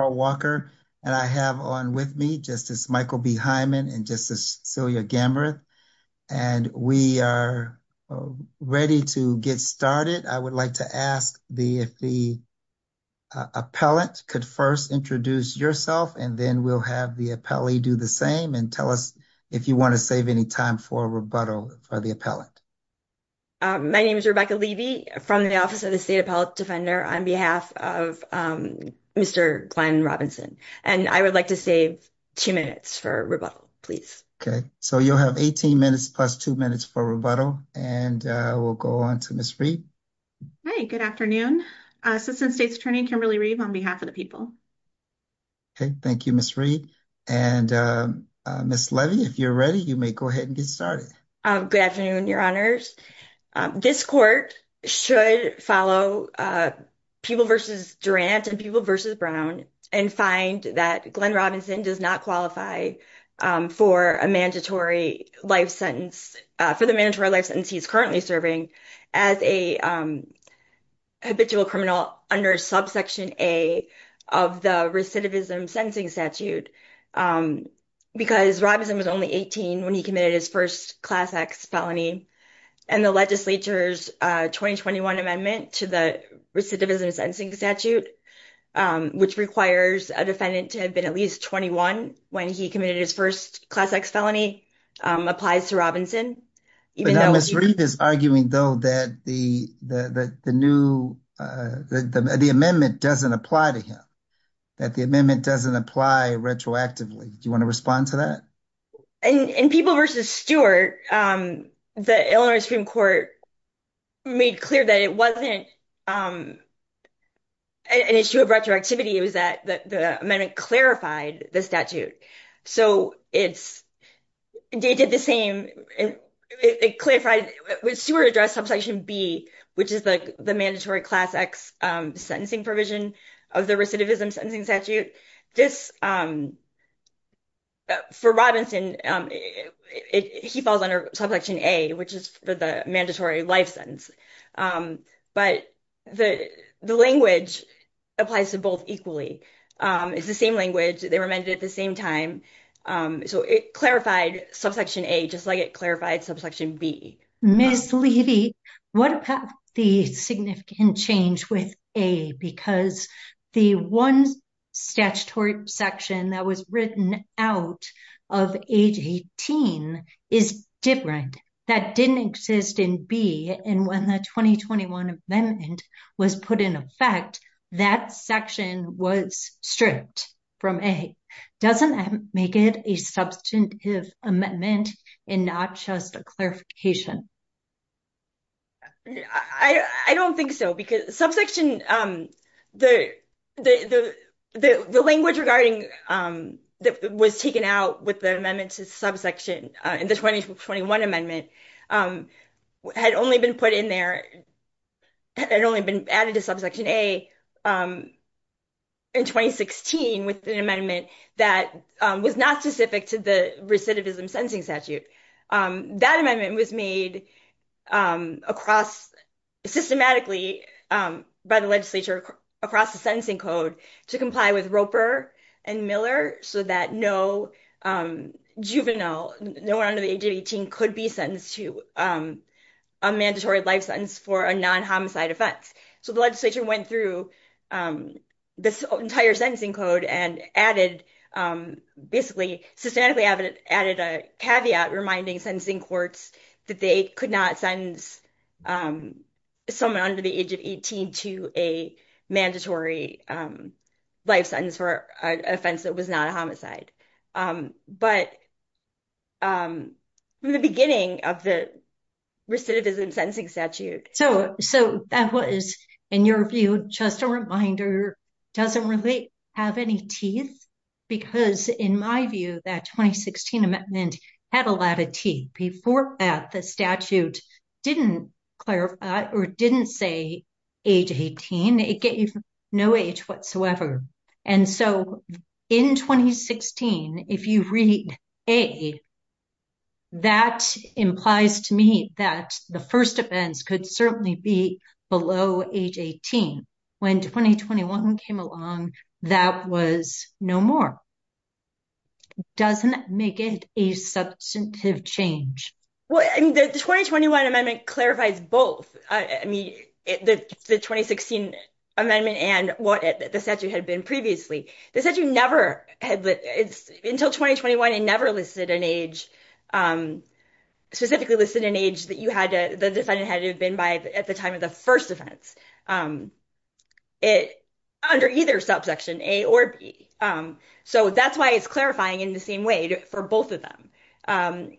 Walker, and I have on with me Justice Michael B. Hyman and Justice Celia Gamberth, and we are ready to get started. I would like to ask if the appellant could first introduce yourself and then we'll have the appellee do the same and tell us if you want to save any time for a rebuttal for the appellant. My name is Rebecca Levy from the Office of the State Appellate Defender on behalf of Mr. Glenn Robinson, and I would like to save two minutes for rebuttal, please. Okay, so you'll have 18 minutes plus two minutes for rebuttal and we'll go on to Ms. Reed. Hi, good afternoon. Assistant State's Attorney Kimberly Reed on behalf of the people. Okay, thank you, Ms. Reed. And Ms. Levy, if you're ready, you may go ahead and get started. Good afternoon, your honors. This court should follow people versus Durant and people versus Brown and find that Glenn Robinson does not qualify for a mandatory life sentence, for the mandatory life sentence he's currently serving as a habitual criminal under subsection A of the recidivism sentencing statute. Because Robinson was only 18 when he committed his first class X felony. And the legislature's 2021 amendment to the recidivism sentencing statute, which requires a defendant to have been at least 21 when he committed his first class X felony applies to Robinson. But Ms. Reed is arguing though that the amendment doesn't apply to him. That the amendment doesn't apply retroactively. Do you want to respond to that? In people versus Stewart, the Illinois Supreme Court made clear that it wasn't an issue of retroactivity. It was that the amendment clarified the statute. So it's they did the same. It clarified with Stewart address subsection B, which is the mandatory class X sentencing provision of the recidivism sentencing statute. For Robinson, he falls under subsection A, which is for the mandatory life sentence. But the language applies to both equally. It's the same language. They were amended at the same time. So it clarified subsection A, just like it clarified subsection B. Ms. Levy, what about the significant change with A? Because the one statutory section that was written out of age 18 is different. That didn't exist in B. And when the 2021 amendment was put in effect, that section was stripped from A. Doesn't that make it a substantive amendment and not just a clarification? I don't think so. Because subsection, the language regarding that was taken out with the amendment to subsection in the 2021 amendment had only been put in there, had only been added to subsection A in 2016 with an amendment that was not specific to the recidivism sentencing statute. That amendment was made systematically by the legislature across the sentencing code to comply with Roper and Miller so that no juvenile, no one under the age of 18 could be sentenced to a mandatory life sentence for a non-homicide offense. So the legislature went through this entire sentencing code and added basically, systematically added a caveat reminding sentencing courts that they could not sentence someone under the age of 18 to a mandatory life sentence for an offense that was not a homicide. But from the beginning of the recidivism sentencing statute. So that was, in your view, just a reminder, doesn't really have any teeth? Because in my view, that 2016 amendment had a lot of teeth. Before that, the statute didn't clarify or didn't say age 18. It gave no age whatsoever. And so in 2016, if you read A, that implies to me that the first offense could certainly be below age 18. When 2021 came along, that was no more. Doesn't make it a substantive change. Well, the 2021 amendment clarifies both. I mean, the 2016 amendment and what the statute had been previously. The statute never, until 2021, it never listed an age, specifically listed an age that the defendant had to have been by at the time of the first offense. Under either subsection A or B. So that's why it's clarifying in the same way for both of them. Under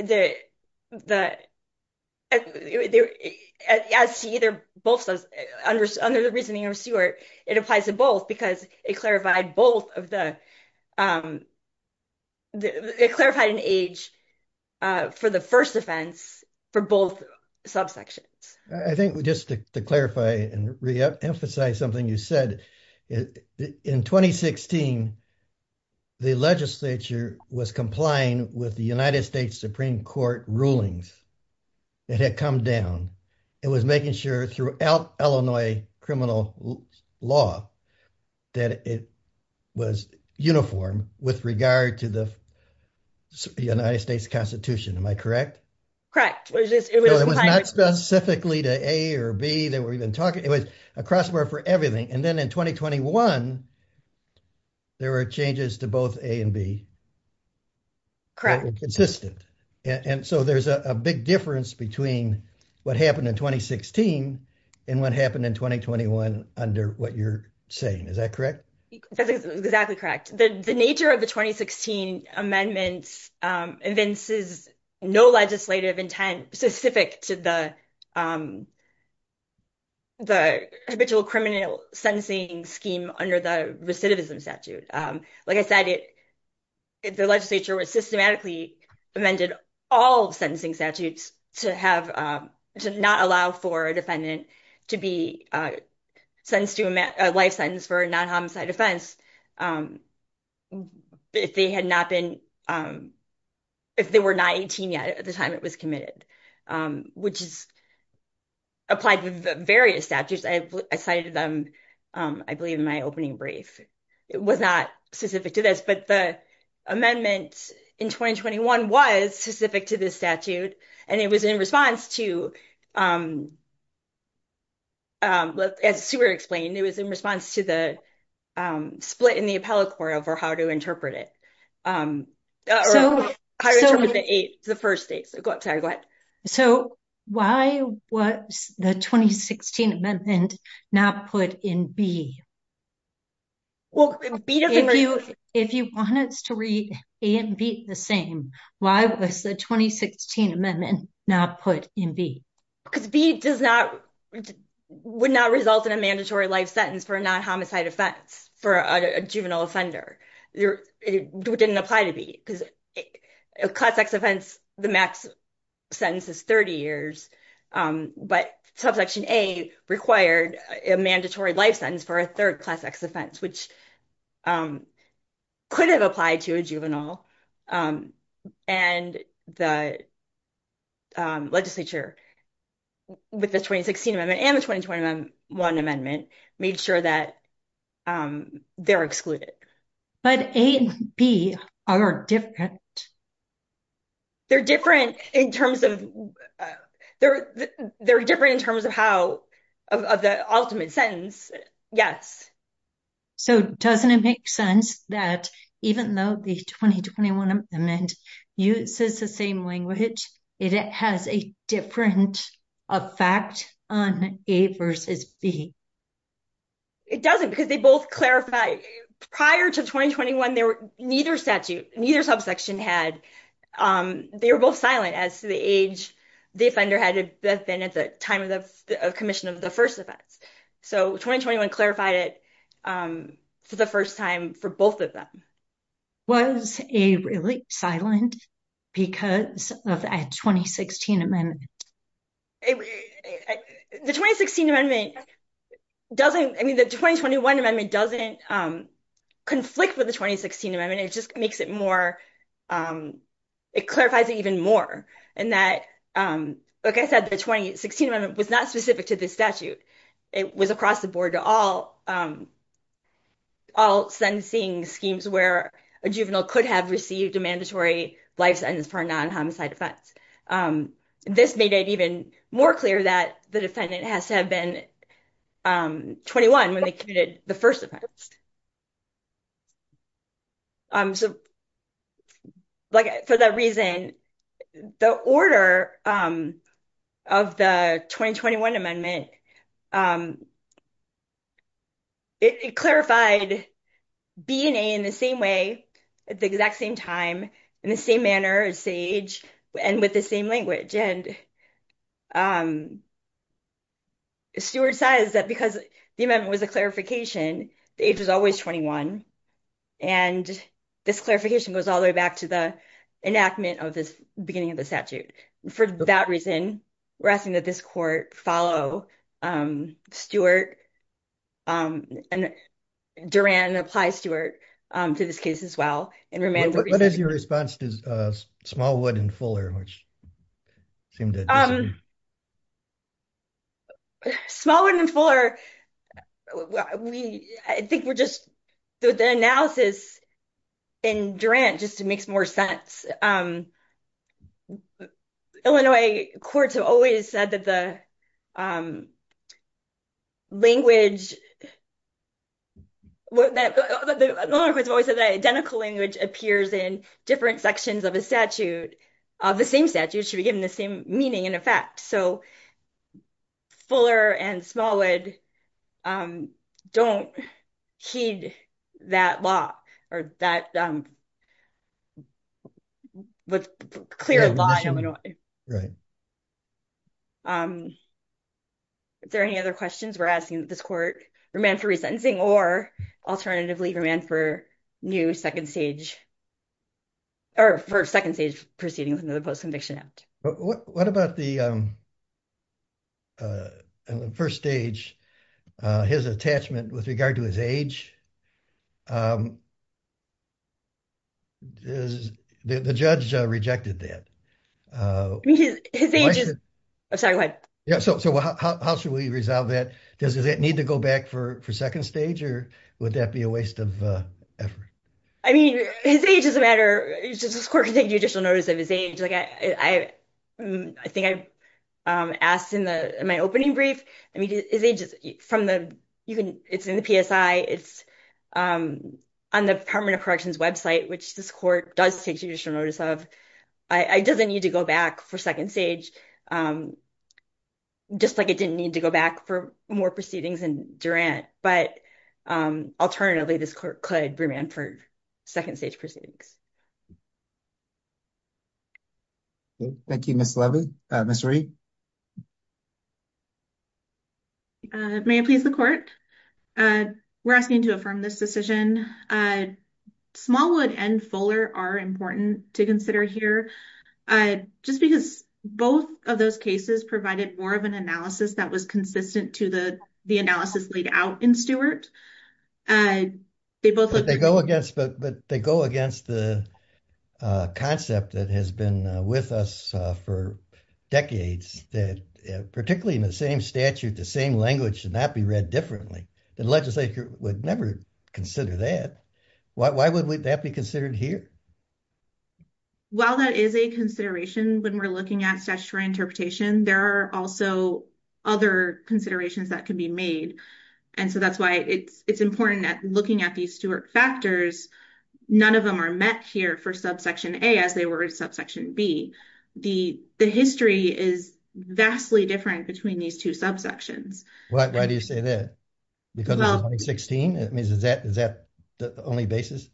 the reasoning of Stewart, it applies to both because it clarified an age for the first offense for both subsections. I think just to clarify and re-emphasize something you said, in 2016, the legislature was complying with the United States Supreme Court rulings that had come down. It was making sure throughout Illinois criminal law that it was uniform with regard to the United States constitution. Am I correct? Correct. It was not specifically to A or B. They were even talking, it was a crossword for everything. And then in 2021, there were changes to both A and B. Correct. Consistent. And so there's a big difference between what happened in 2016 and what happened in 2021 under what you're saying. Is that correct? Exactly correct. The nature of the 2016 amendments evinces no legislative intent specific to the habitual criminal sentencing scheme under the recidivism statute. Like I said, the legislature was systematically amended all sentencing statutes to not allow for a defendant to be sentenced to a life sentence for a non-homicide offense if they were not 18 yet at the time it was committed, which is applied with various statutes. I cited them, I believe, in my opening brief. It was not specific to this, but the amendment in 2021 was specific to this statute and it was in response to, as Sue explained, it was in response to the split in the appellate court over how to interpret it. So why was the 2016 amendment not put in B? If you want us to read A and B the same, why was the 2016 amendment not put in B? Because B would not result in a mandatory life sentence for a non-homicide offense for a juvenile offender. It didn't apply to B because a class X offense, the max sentence is 30 years, but subsection A required a mandatory life sentence for a third class X offense, which could have applied to a juvenile. And the legislature with the 2016 amendment and the 2021 amendment made sure that they're excluded. But A and B are different. They're different in terms of how, of the ultimate sentence, yes. So doesn't it make sense that even though the 2021 amendment uses the same language, it has a different effect on A versus B? It doesn't because they both clarify, prior to 2021, neither statute, neither subsection had, they were both silent as to the age the offender had been at the time of the commission of the first offense. So 2021 clarified it for the first time for both of them. Was A really silent because of a 2016 amendment? The 2016 amendment doesn't, I mean, the 2021 amendment doesn't conflict with the 2016 amendment. It just makes it more, it clarifies it even more. And that, like I said, the 2016 amendment was not specific to this statute. It was across the board to all sentencing schemes where a juvenile could have received a mandatory life sentence for a non-homicide offense. This made it even more clear that the defendant has to have been 21 when they committed the first offense. So, like, for that reason, the order of the 2021 amendment, it clarified B and A in the same way, at the exact same time, in the same manner, at the same age, and with the same language. And because the amendment was a clarification, the age was always 21. And this clarification goes all the way back to the enactment of this beginning of the statute. For that reason, we're asking that this court follow Stewart and Durand and apply Stewart to this case as well. What is your response to Smallwood and Fuller? Smallwood and Fuller, we, I think we're just, the analysis in Durand just makes more sense. Illinois courts have always said that the language, the Illinois courts have always said that identical language appears in different sections of a statute, of the same statute, should be given the same meaning and effect. So, Fuller and Smallwood don't heed that law or that clear law in Illinois. Is there any other questions we're asking that this court remand for resentencing or alternatively remand for new second stage, or for second stage proceeding with another post-conviction act? What about the first stage, his attachment with regard to his age? The judge rejected that. His age is, sorry, go ahead. Yeah, so how should we resolve that? Does that need to go back for second stage? Would that be a waste of effort? I mean, his age doesn't matter. This court can take judicial notice of his age. I think I asked in my opening brief, I mean, his age is from the, it's in the PSI, it's on the Department of Corrections website, which this court does take judicial notice of. It doesn't need to go back for second stage, just like it didn't need to go back for more proceedings in Durand. But alternatively, this court could remand for second stage proceedings. Thank you, Ms. Levy. Ms. Reed? May I please the court? We're asking to affirm this decision. Smallwood and Fuller are important to consider here, just because both of those cases provided more of an analysis that was consistent to the analysis laid out in Stewart. But they go against the concept that has been with us for decades, that particularly in the same statute, the same language should not be read differently. The legislature would never consider that. Why would that be considered here? Well, that is a consideration when we're looking at statutory interpretation. There are also other considerations that can be made. And so that's why it's important that looking at these Stewart factors, none of them are met here for subsection A as they were in subsection B. The history is vastly different between these two subsections. Why do you say that? Because of 2016? Is that the only basis?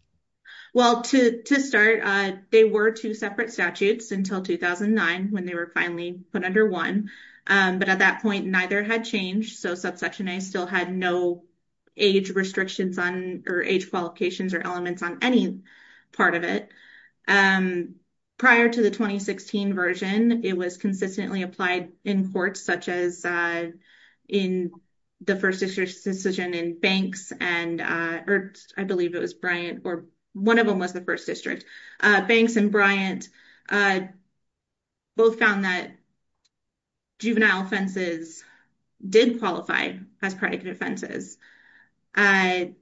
Well, to start, they were two separate statutes until 2009, when they were finally put under one. But at that point, neither had changed. So subsection A still had no age restrictions on or age qualifications or elements on any part of it. Prior to the 2016 version, it was consistently applied in court, such as in the first decision in Banks, and I believe it was Bryant, or one of them was the first district. Banks and Bryant both found that juvenile offenses did qualify as predicate offenses. But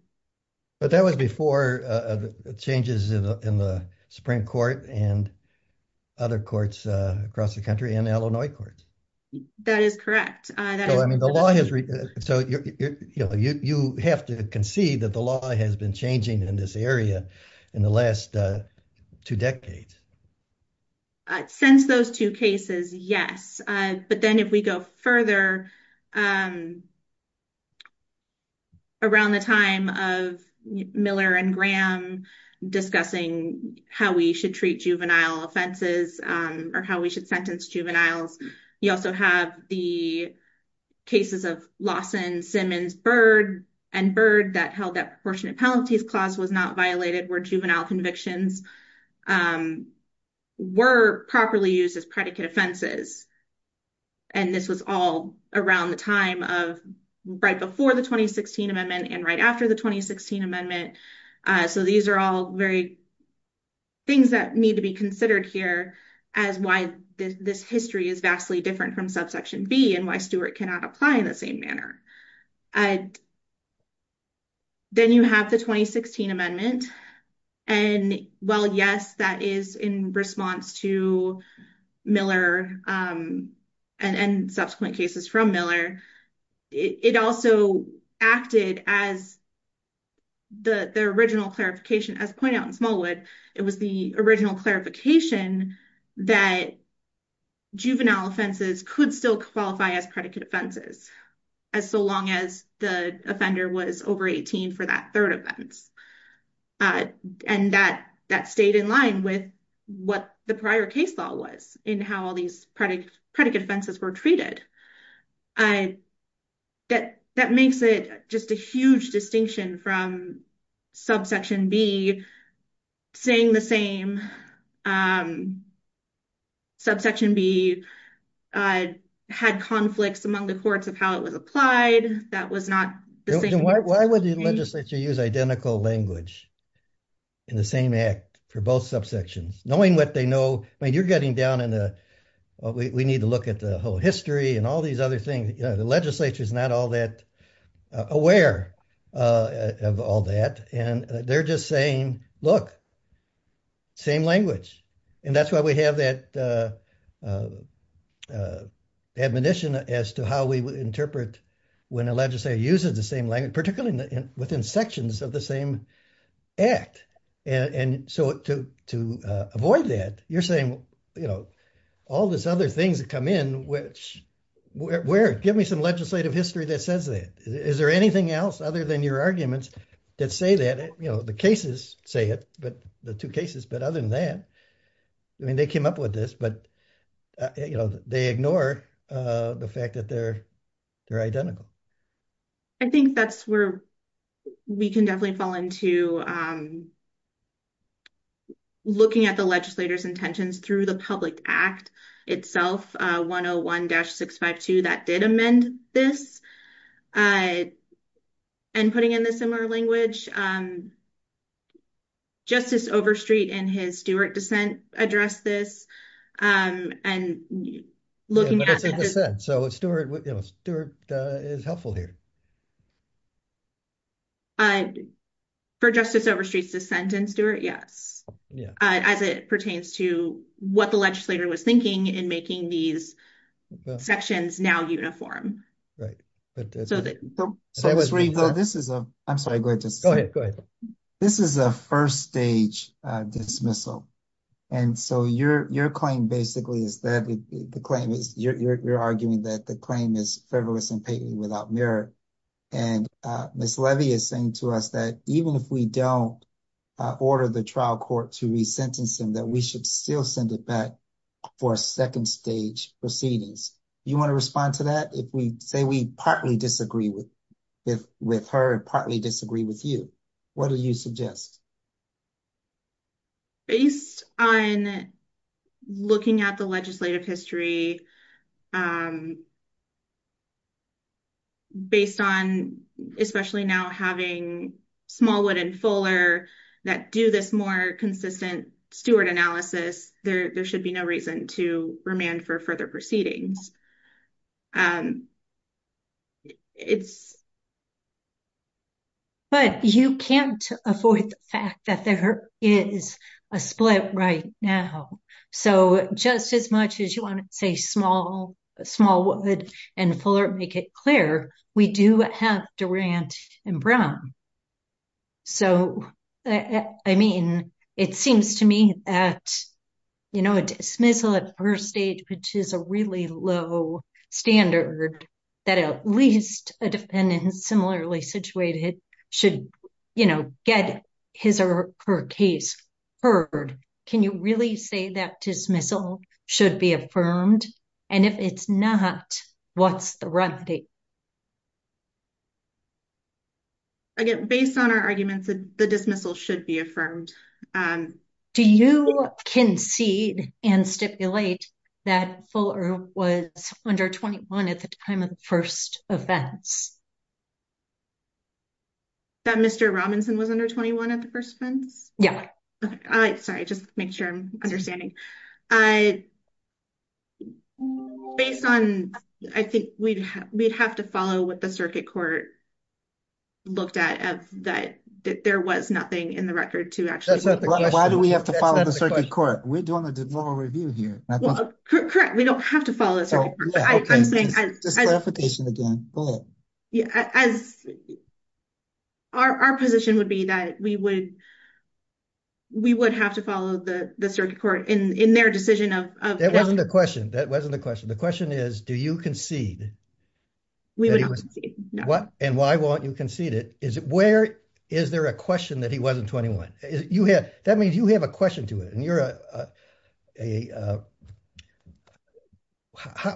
that was before the changes in the Supreme Court and other courts across the country and courts. That is correct. So you have to concede that the law has been changing in this area in the last two decades. Since those two cases, yes. But then if we go further around the time of Miller and Graham discussing how we should treat juvenile offenses, or how we should sentence juveniles, you also have the cases of Lawson, Simmons, Byrd, and Byrd that held that Proportionate Penalties Clause was not violated where juvenile convictions were properly used as predicate offenses. And this was all around the time of right before the 2016 amendment and right after the 2016 amendment. So these are all very things that need to be considered here as why this history is vastly different from Subsection B and why Stewart cannot apply in the same manner. Then you have the 2016 amendment, and while yes, that is in response to Miller and subsequent cases from Miller, it also acted as the original clarification, as pointed out in Smallwood, it was the original clarification that juvenile offenses could still qualify as predicate offenses as so long as the offender was over 18 for that third offense. And that stayed in line with what the prior case law was in how all these predicate offenses were treated. That makes it just a huge distinction from Subsection B saying the same. Subsection B had conflicts among the courts of how it was applied. That was not the same. Why would the legislature use identical language in the same act for both subsections? Knowing what they know, I mean, you're getting down in the, we need to look at the whole history and all these other things. The legislature is not all that aware of all that. And they're just saying, look, same language. And that's why we have that admonition as to how we would interpret when a legislature uses the same language, within sections of the same act. And so to avoid that, you're saying, all this other things that come in, which, where, give me some legislative history that says that. Is there anything else other than your arguments that say that, the cases say it, but the two cases, but other than that, I mean, they came up with this, but they ignore the fact that they're identical. I think that's where we can definitely fall into looking at the legislator's intentions through the public act itself, 101-652, that did amend this. And putting in the similar language, Justice Overstreet in his Stewart dissent addressed this. And looking at it. So Stewart is helpful here. For Justice Overstreet's dissent in Stewart, yes. As it pertains to what the legislator was thinking in making these sections now uniform. Right. So Justice Overstreet, this is a, I'm sorry, go ahead. This is a first stage dismissal. And so your claim basically is that the claim is, you're arguing that the claim is fervorless and patentless without merit. And Ms. Levy is saying to us that even if we don't order the trial court to re-sentence him, that we should still send it back for a second stage proceedings. You want to respond to that? If we say we partly disagree with her and partly disagree with you, what do you suggest? Based on looking at the legislative history, based on especially now having Smallwood and Fuller that do this more consistent Stewart analysis, there should be no reason to remand for further proceedings. But you can't avoid the fact that there is a split right now. So just as much as you want to say Smallwood and Fuller make it clear, we do have Durant and Brown. So, I mean, it seems to me that, you know, a dismissal at first stage, which is a really low standard, that at least a defendant similarly situated should, you know, get his or her case heard. Can you really say that dismissal should be affirmed? And if it's not, what's the remedy? Again, based on our arguments, the dismissal should be affirmed. Do you concede and stipulate that Fuller was under 21 at the time of the first offense? That Mr. Robinson was under 21 at the first offense? Yeah. Okay. Sorry, just to make sure I'm understanding. Based on, I think we'd have to follow what the circuit court looked at, that there was nothing in the record to actually- Why do we have to follow the circuit court? We're doing a review here. Correct. We don't have to follow the circuit court. Okay. Just clarification again. Go ahead. As our position would be that we would have to follow the circuit court in their decision of- That wasn't the question. That wasn't the question. The question is, do you concede? We would not concede, no. And why won't you concede it? Where is there a question that he wasn't 21? That means you have a question to it. And you're a...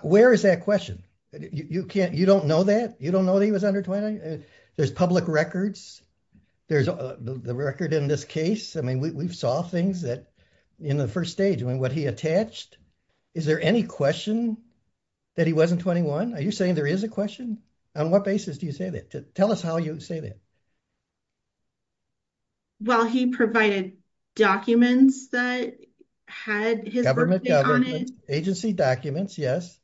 Where is that question? You don't know that? You don't know that he was under 20? There's public records. There's the record in this case. I mean, we've saw things that in the first stage, I mean, what he attached. Is there any question that he wasn't 21? Are you saying there is a question? On what basis do you say that? Tell us how you say that. Well, he provided documents that had his birthday on it. Agency documents. Yes.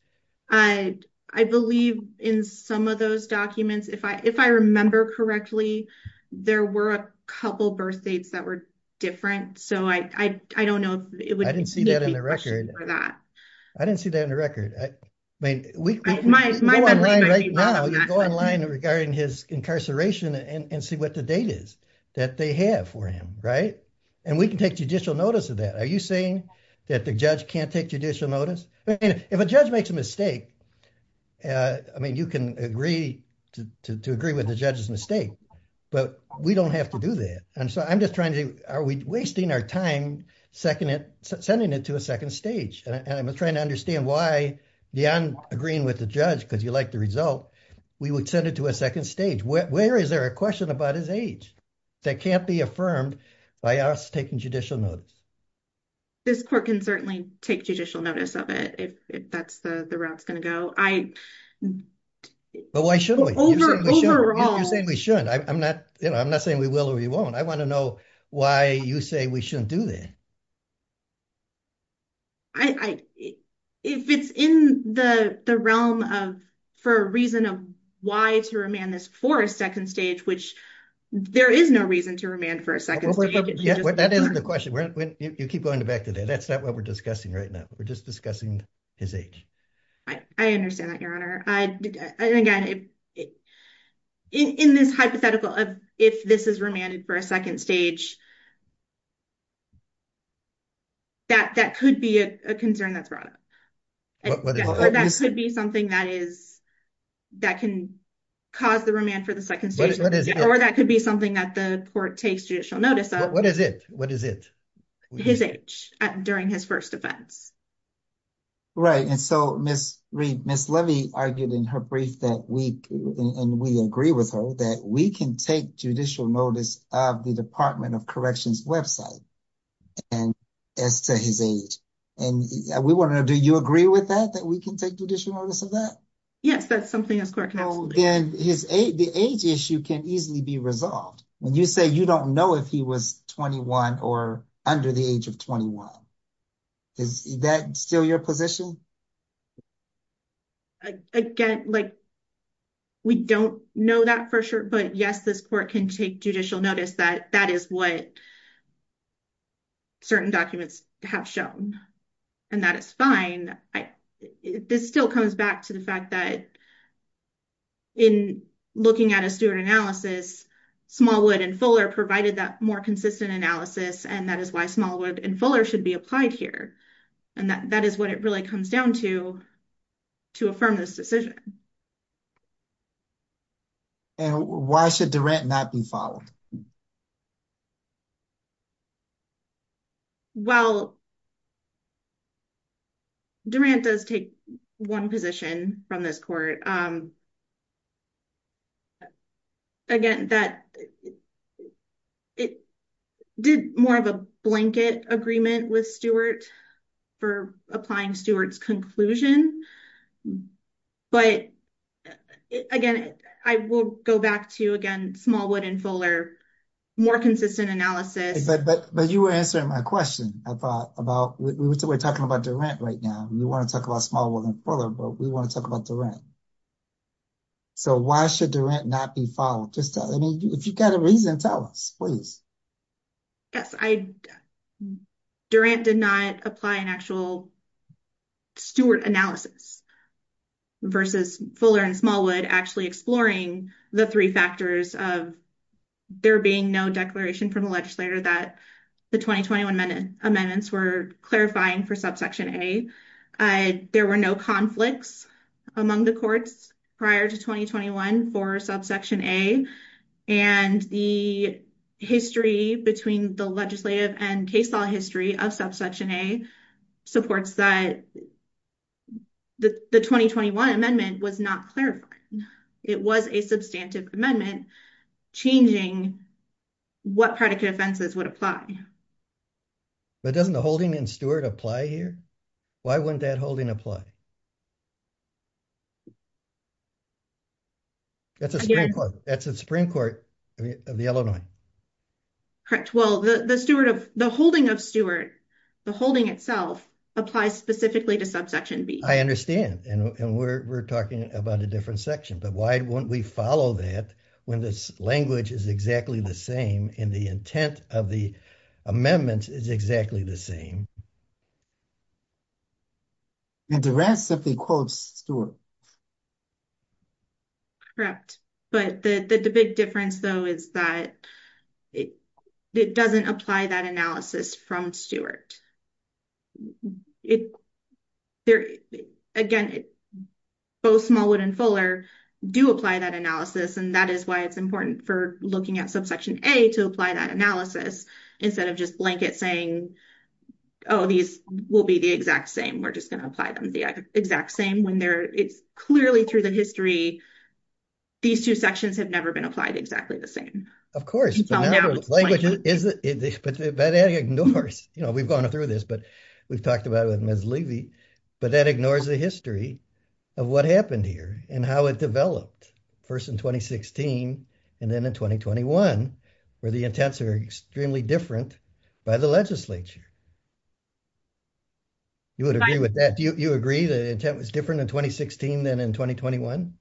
I believe in some of those documents, if I remember correctly, there were a couple birth dates that were different. So I don't know if it would be a question for that. I didn't see that in the record. I didn't see that in the record. I mean, we can go online right now. You can go online regarding his incarceration and see what the date is that they have for him, right? And we can take judicial notice of that. Are you saying that the judge can't take judicial notice? I mean, if a judge makes a mistake, I mean, you can agree to agree with the judge's mistake, but we don't have to do that. And so I'm just trying to, are we wasting our time sending it to a second stage? And I'm trying to understand why beyond agreeing with the judge, because you like the result, we would send it to a second stage. Where is there a question about his age that can't be affirmed by us taking judicial notice? This court can certainly take judicial notice of it, if that's the route it's going to go. But why should we? You're saying we should. I'm not saying we will or we won't. I want to know why you say we shouldn't do that. If it's in the realm of, for a reason of why to remand this for a second stage, which there is no reason to remand for a second stage. That isn't the question. You keep going back to that. That's not what we're discussing right now. We're just discussing his age. I understand that, Your Honor. In this hypothetical of if this is remanded for a second stage, that could be a concern that's brought up. Or that could be something that is, that can cause the remand for the second stage. Or that could be something that the court takes judicial notice of. What is it? What is it? His age during his first offense. Right. And so Ms. Levy argued in her brief that we, and we agree with her, that we can take judicial notice of the Department of Corrections website as to his age. And we want to know, do you agree with that? That we can take judicial notice of that? Yes, that's something that the court can absolutely do. The age issue can easily be resolved. When you say you don't know if he was 21 or under the age of 21. Is that still your position? Again, like, we don't know that for sure. But yes, this court can take judicial notice that that is what certain documents have shown. And that is fine. This still comes back to the fact that in looking at a steward analysis, Smallwood and Fuller provided that more consistent analysis. And that is why Smallwood and Fuller should be applied here. And that is what it really comes down to, to affirm this decision. And why should Durant not be followed? Well, Durant does take one position from this court. Again, that it did more of a blanket agreement with Stewart for applying Stewart's conclusion. But again, I will go back to, again, Smallwood and Fuller, more consistent analysis. But you were answering my question, I thought, about, we're talking about Durant right now. We want to talk about Smallwood and Fuller, but we want to talk about Durant. So why should Durant not be followed? Just, I mean, if you've got a reason, tell us, please. Yes, Durant did not apply an actual Stewart analysis versus Fuller and Smallwood actually exploring the three factors of there being no declaration from the legislator that the 2021 amendments were clarifying for subsection A. There were no conflicts among the courts prior to 2021 for subsection A. And the history between the legislative and case law history of subsection A supports that the 2021 amendment was not clarifying. It was a substantive amendment changing what predicate offenses would apply. But doesn't the holding in Stewart apply here? Why wouldn't that holding apply? That's the Supreme Court of Illinois. Correct. Well, the holding of Stewart, the holding itself, applies specifically to subsection B. I understand. And we're talking about a different section. But why won't we follow that when this language is exactly the same and the intent of the amendment is exactly the same? And the rest of the quotes, Stewart. Correct. But the big difference, though, is that it doesn't apply that analysis from Stewart. Again, both Smallwood and Fuller do apply that analysis. And that is why it's important for looking at subsection A to apply that analysis instead of just blanket saying, oh, these will be the exact same. We're just going to apply them the exact same. Clearly, through the history, these two sections have never been applied exactly the same. Of course. But that ignores, we've gone through this, but we've talked about it with Ms. Levy, but that ignores the history of what happened here and how it developed first in 2016 and then in 2021, where the intents are extremely different by the legislature. You would agree with that? Do you agree the intent was different in 2016 than in 2021?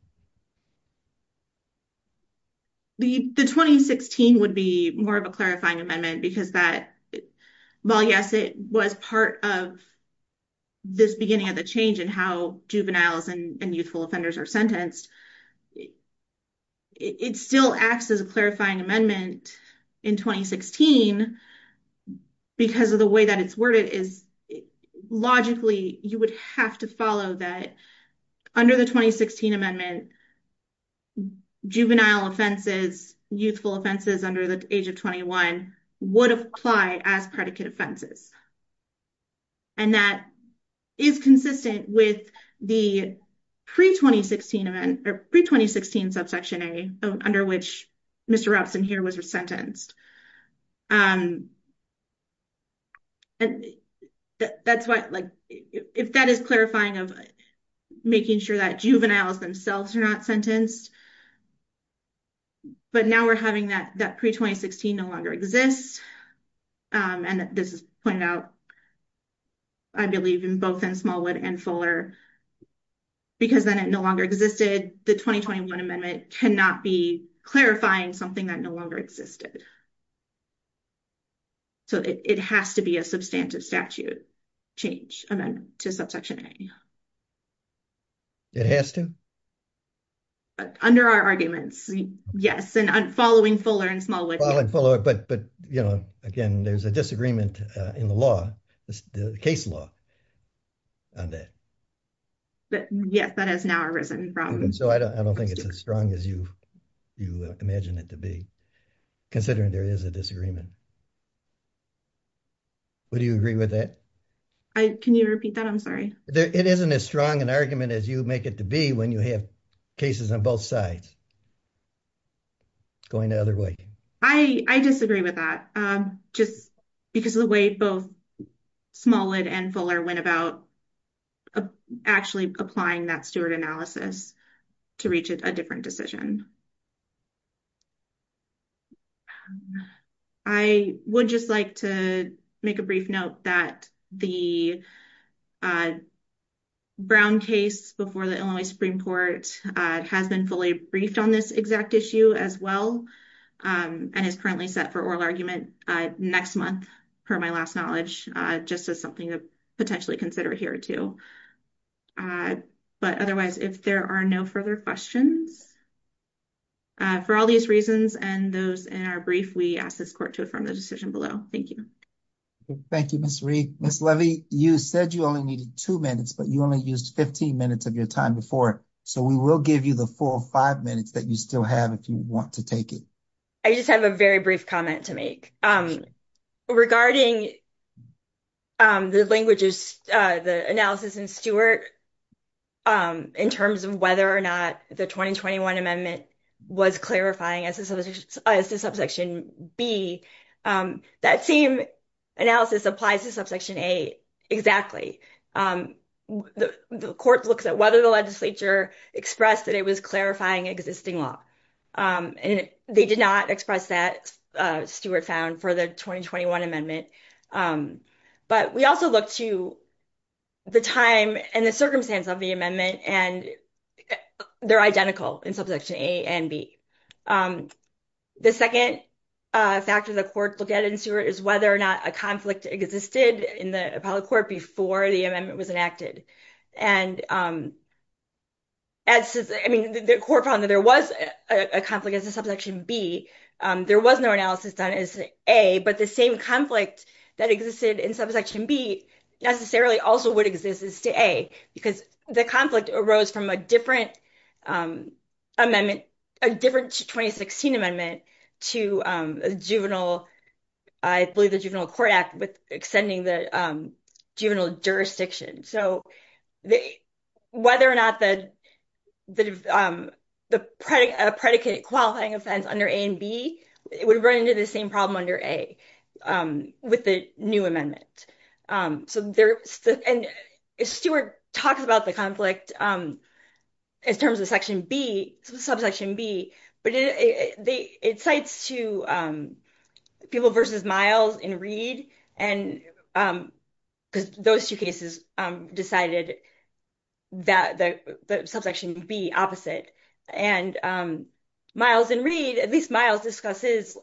The 2016 would be more of a clarifying amendment because that, while yes, it was part of this beginning of the change in how juveniles and youthful offenders are sentenced, it still acts as a clarifying amendment in 2016 because of the way that it's worded. Logically, you would have to follow that under the 2016 amendment, juvenile offenses, youthful offenses under the age of 21 would apply as predicate offenses. And that is consistent with the pre-2016 event or pre-2016 subsection A under which Mr. Robson here was sentenced. If that is clarifying of making sure that juveniles themselves are not sentenced, but now we're having that pre-2016 no longer exists, and this is pointed out, I believe in both in Smallwood and Fuller, because then it no longer existed, the 2021 amendment cannot be clarifying something that no longer existed. So it has to be a substantive statute change amendment to subsection A. It has to? Under our arguments, yes, and following Fuller and Smallwood. But again, there's a disagreement in the law, the case law on that. But yes, that has now arisen from... So I don't think it's as strong as you imagine it to be, considering there is a disagreement. Would you agree with that? Can you repeat that? I'm sorry. It isn't as strong an argument as you make it to be when you have cases on both sides going the other way. I disagree with that, just because of the way both Smallwood and Fuller went about actually applying that steward analysis to reach a different decision. I would just like to make a brief note that the Brown case before the Illinois Supreme Court has been fully briefed on this exact issue as well, and is currently set for oral argument next month, per my last knowledge, just as something to potentially consider here too. But otherwise, if there are no further questions, for all these reasons and those in our brief, we ask this court to affirm the decision below. Thank you. Thank you, Ms. Reed. Ms. Levy, you said you only needed two minutes, but you only used 15 minutes of your time before, so we will give you the full five minutes that you still have if you want to take it. I just have a very brief comment to make. Regarding the analysis and steward in terms of whether or not the 2021 amendment was clarifying as to subsection B, that same analysis applies to subsection A exactly. The court looks at whether the expressed that it was clarifying existing law, and they did not express that, Stewart found, for the 2021 amendment. But we also look to the time and the circumstance of the amendment, and they're identical in subsection A and B. The second factor the court looked at in Stewart is whether or not a conflict existed in the appellate court before the amendment was enacted. The court found that there was a conflict as a subsection B. There was no analysis done as A, but the same conflict that existed in subsection B necessarily also would exist as to A, because the conflict arose from a different amendment, a different 2016 amendment, to the Juvenile Court Act with extending the juvenile jurisdiction. So whether or not the predicate qualifying offense under A and B would run into the same problem under A with the new amendment. Stewart talks about the conflict in terms of subsection B, but it cites two people versus Miles in Reed, because those two cases decided that the subsection B opposite. And Miles in Reed, at least Miles discusses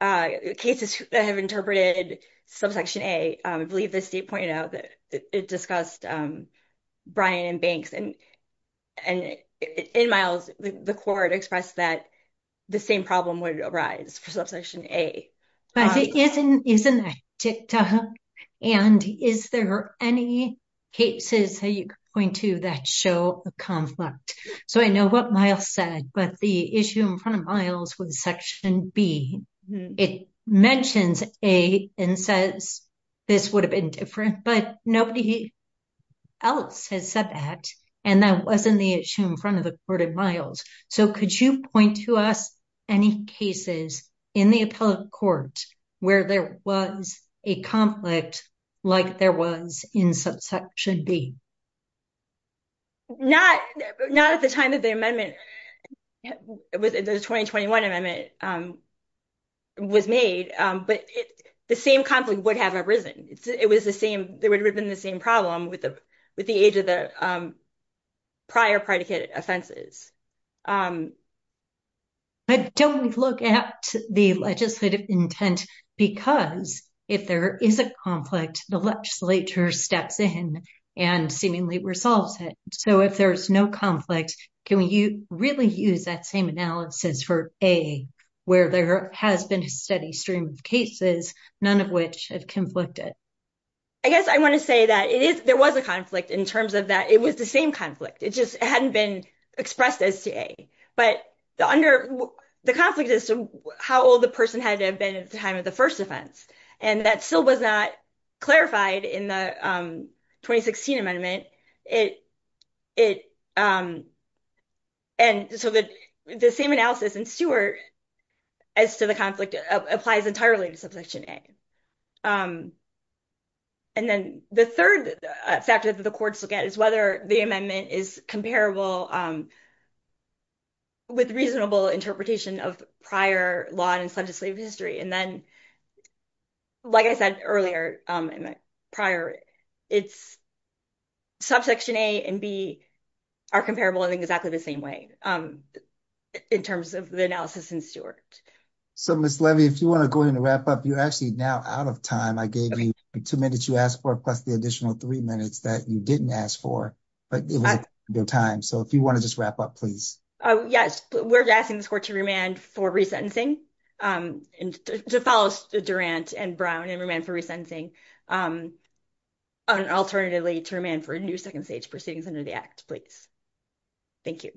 cases that have interpreted subsection A. I believe the state pointed out that it discussed Bryan and Banks, and in Miles, the court expressed that the same problem would arise for subsection A. But it isn't a tick-tock, and is there any cases that you're going to that show a conflict? So I know what Miles said, but the issue in front of Miles was section B. It mentions A and says this would have been different, but nobody else has said that, and that wasn't the issue in front of the court in Miles. So could you point to us any cases in the appellate court where there was a conflict like there was in subsection B? Not at the time that the amendment, the 2021 amendment, was made, but the same conflict would have arisen. It would have been the same problem with the age of the prior predicate offenses. But don't look at the legislative intent, because if there is a conflict, the legislature steps in and seemingly resolves it. So if there's no conflict, can we really use that same analysis for A, where there has been a steady stream of cases, none of which have conflicted? I guess I want to say that there was a conflict in terms of that it was the same conflict. It just hadn't been expressed as to A. But the conflict is how old the person had been at the time of the first offense, and that still was not clarified in the 2016 amendment. And so the same analysis in Stewart as to the conflict applies entirely to subsection A. And then the third factor that the courts look at is whether the amendment is comparable with reasonable interpretation of prior law and legislative history. And then, like I said earlier in the prior, it's subsection A and B are comparable in exactly the same way in terms of the analysis in Stewart. So Ms. Levy, if you want to go ahead and wrap up, you're actually now out of time. I gave you the two minutes you asked for plus the additional three minutes that you didn't ask for. So if you want to just wrap up, please. Yes, we're asking this court to remand for resentencing, to follow Durant and Brown and remand for resentencing, and alternatively to remand for a new second stage proceedings under the Act, please. Thank you.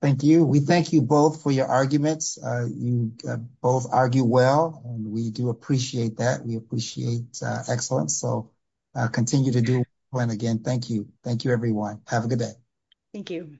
Thank you. We thank you both for your arguments. You both argue well, and we do appreciate that. We appreciate excellence. So continue to do well. And again, thank you. Thank you, everyone. Have a good day. Thank you.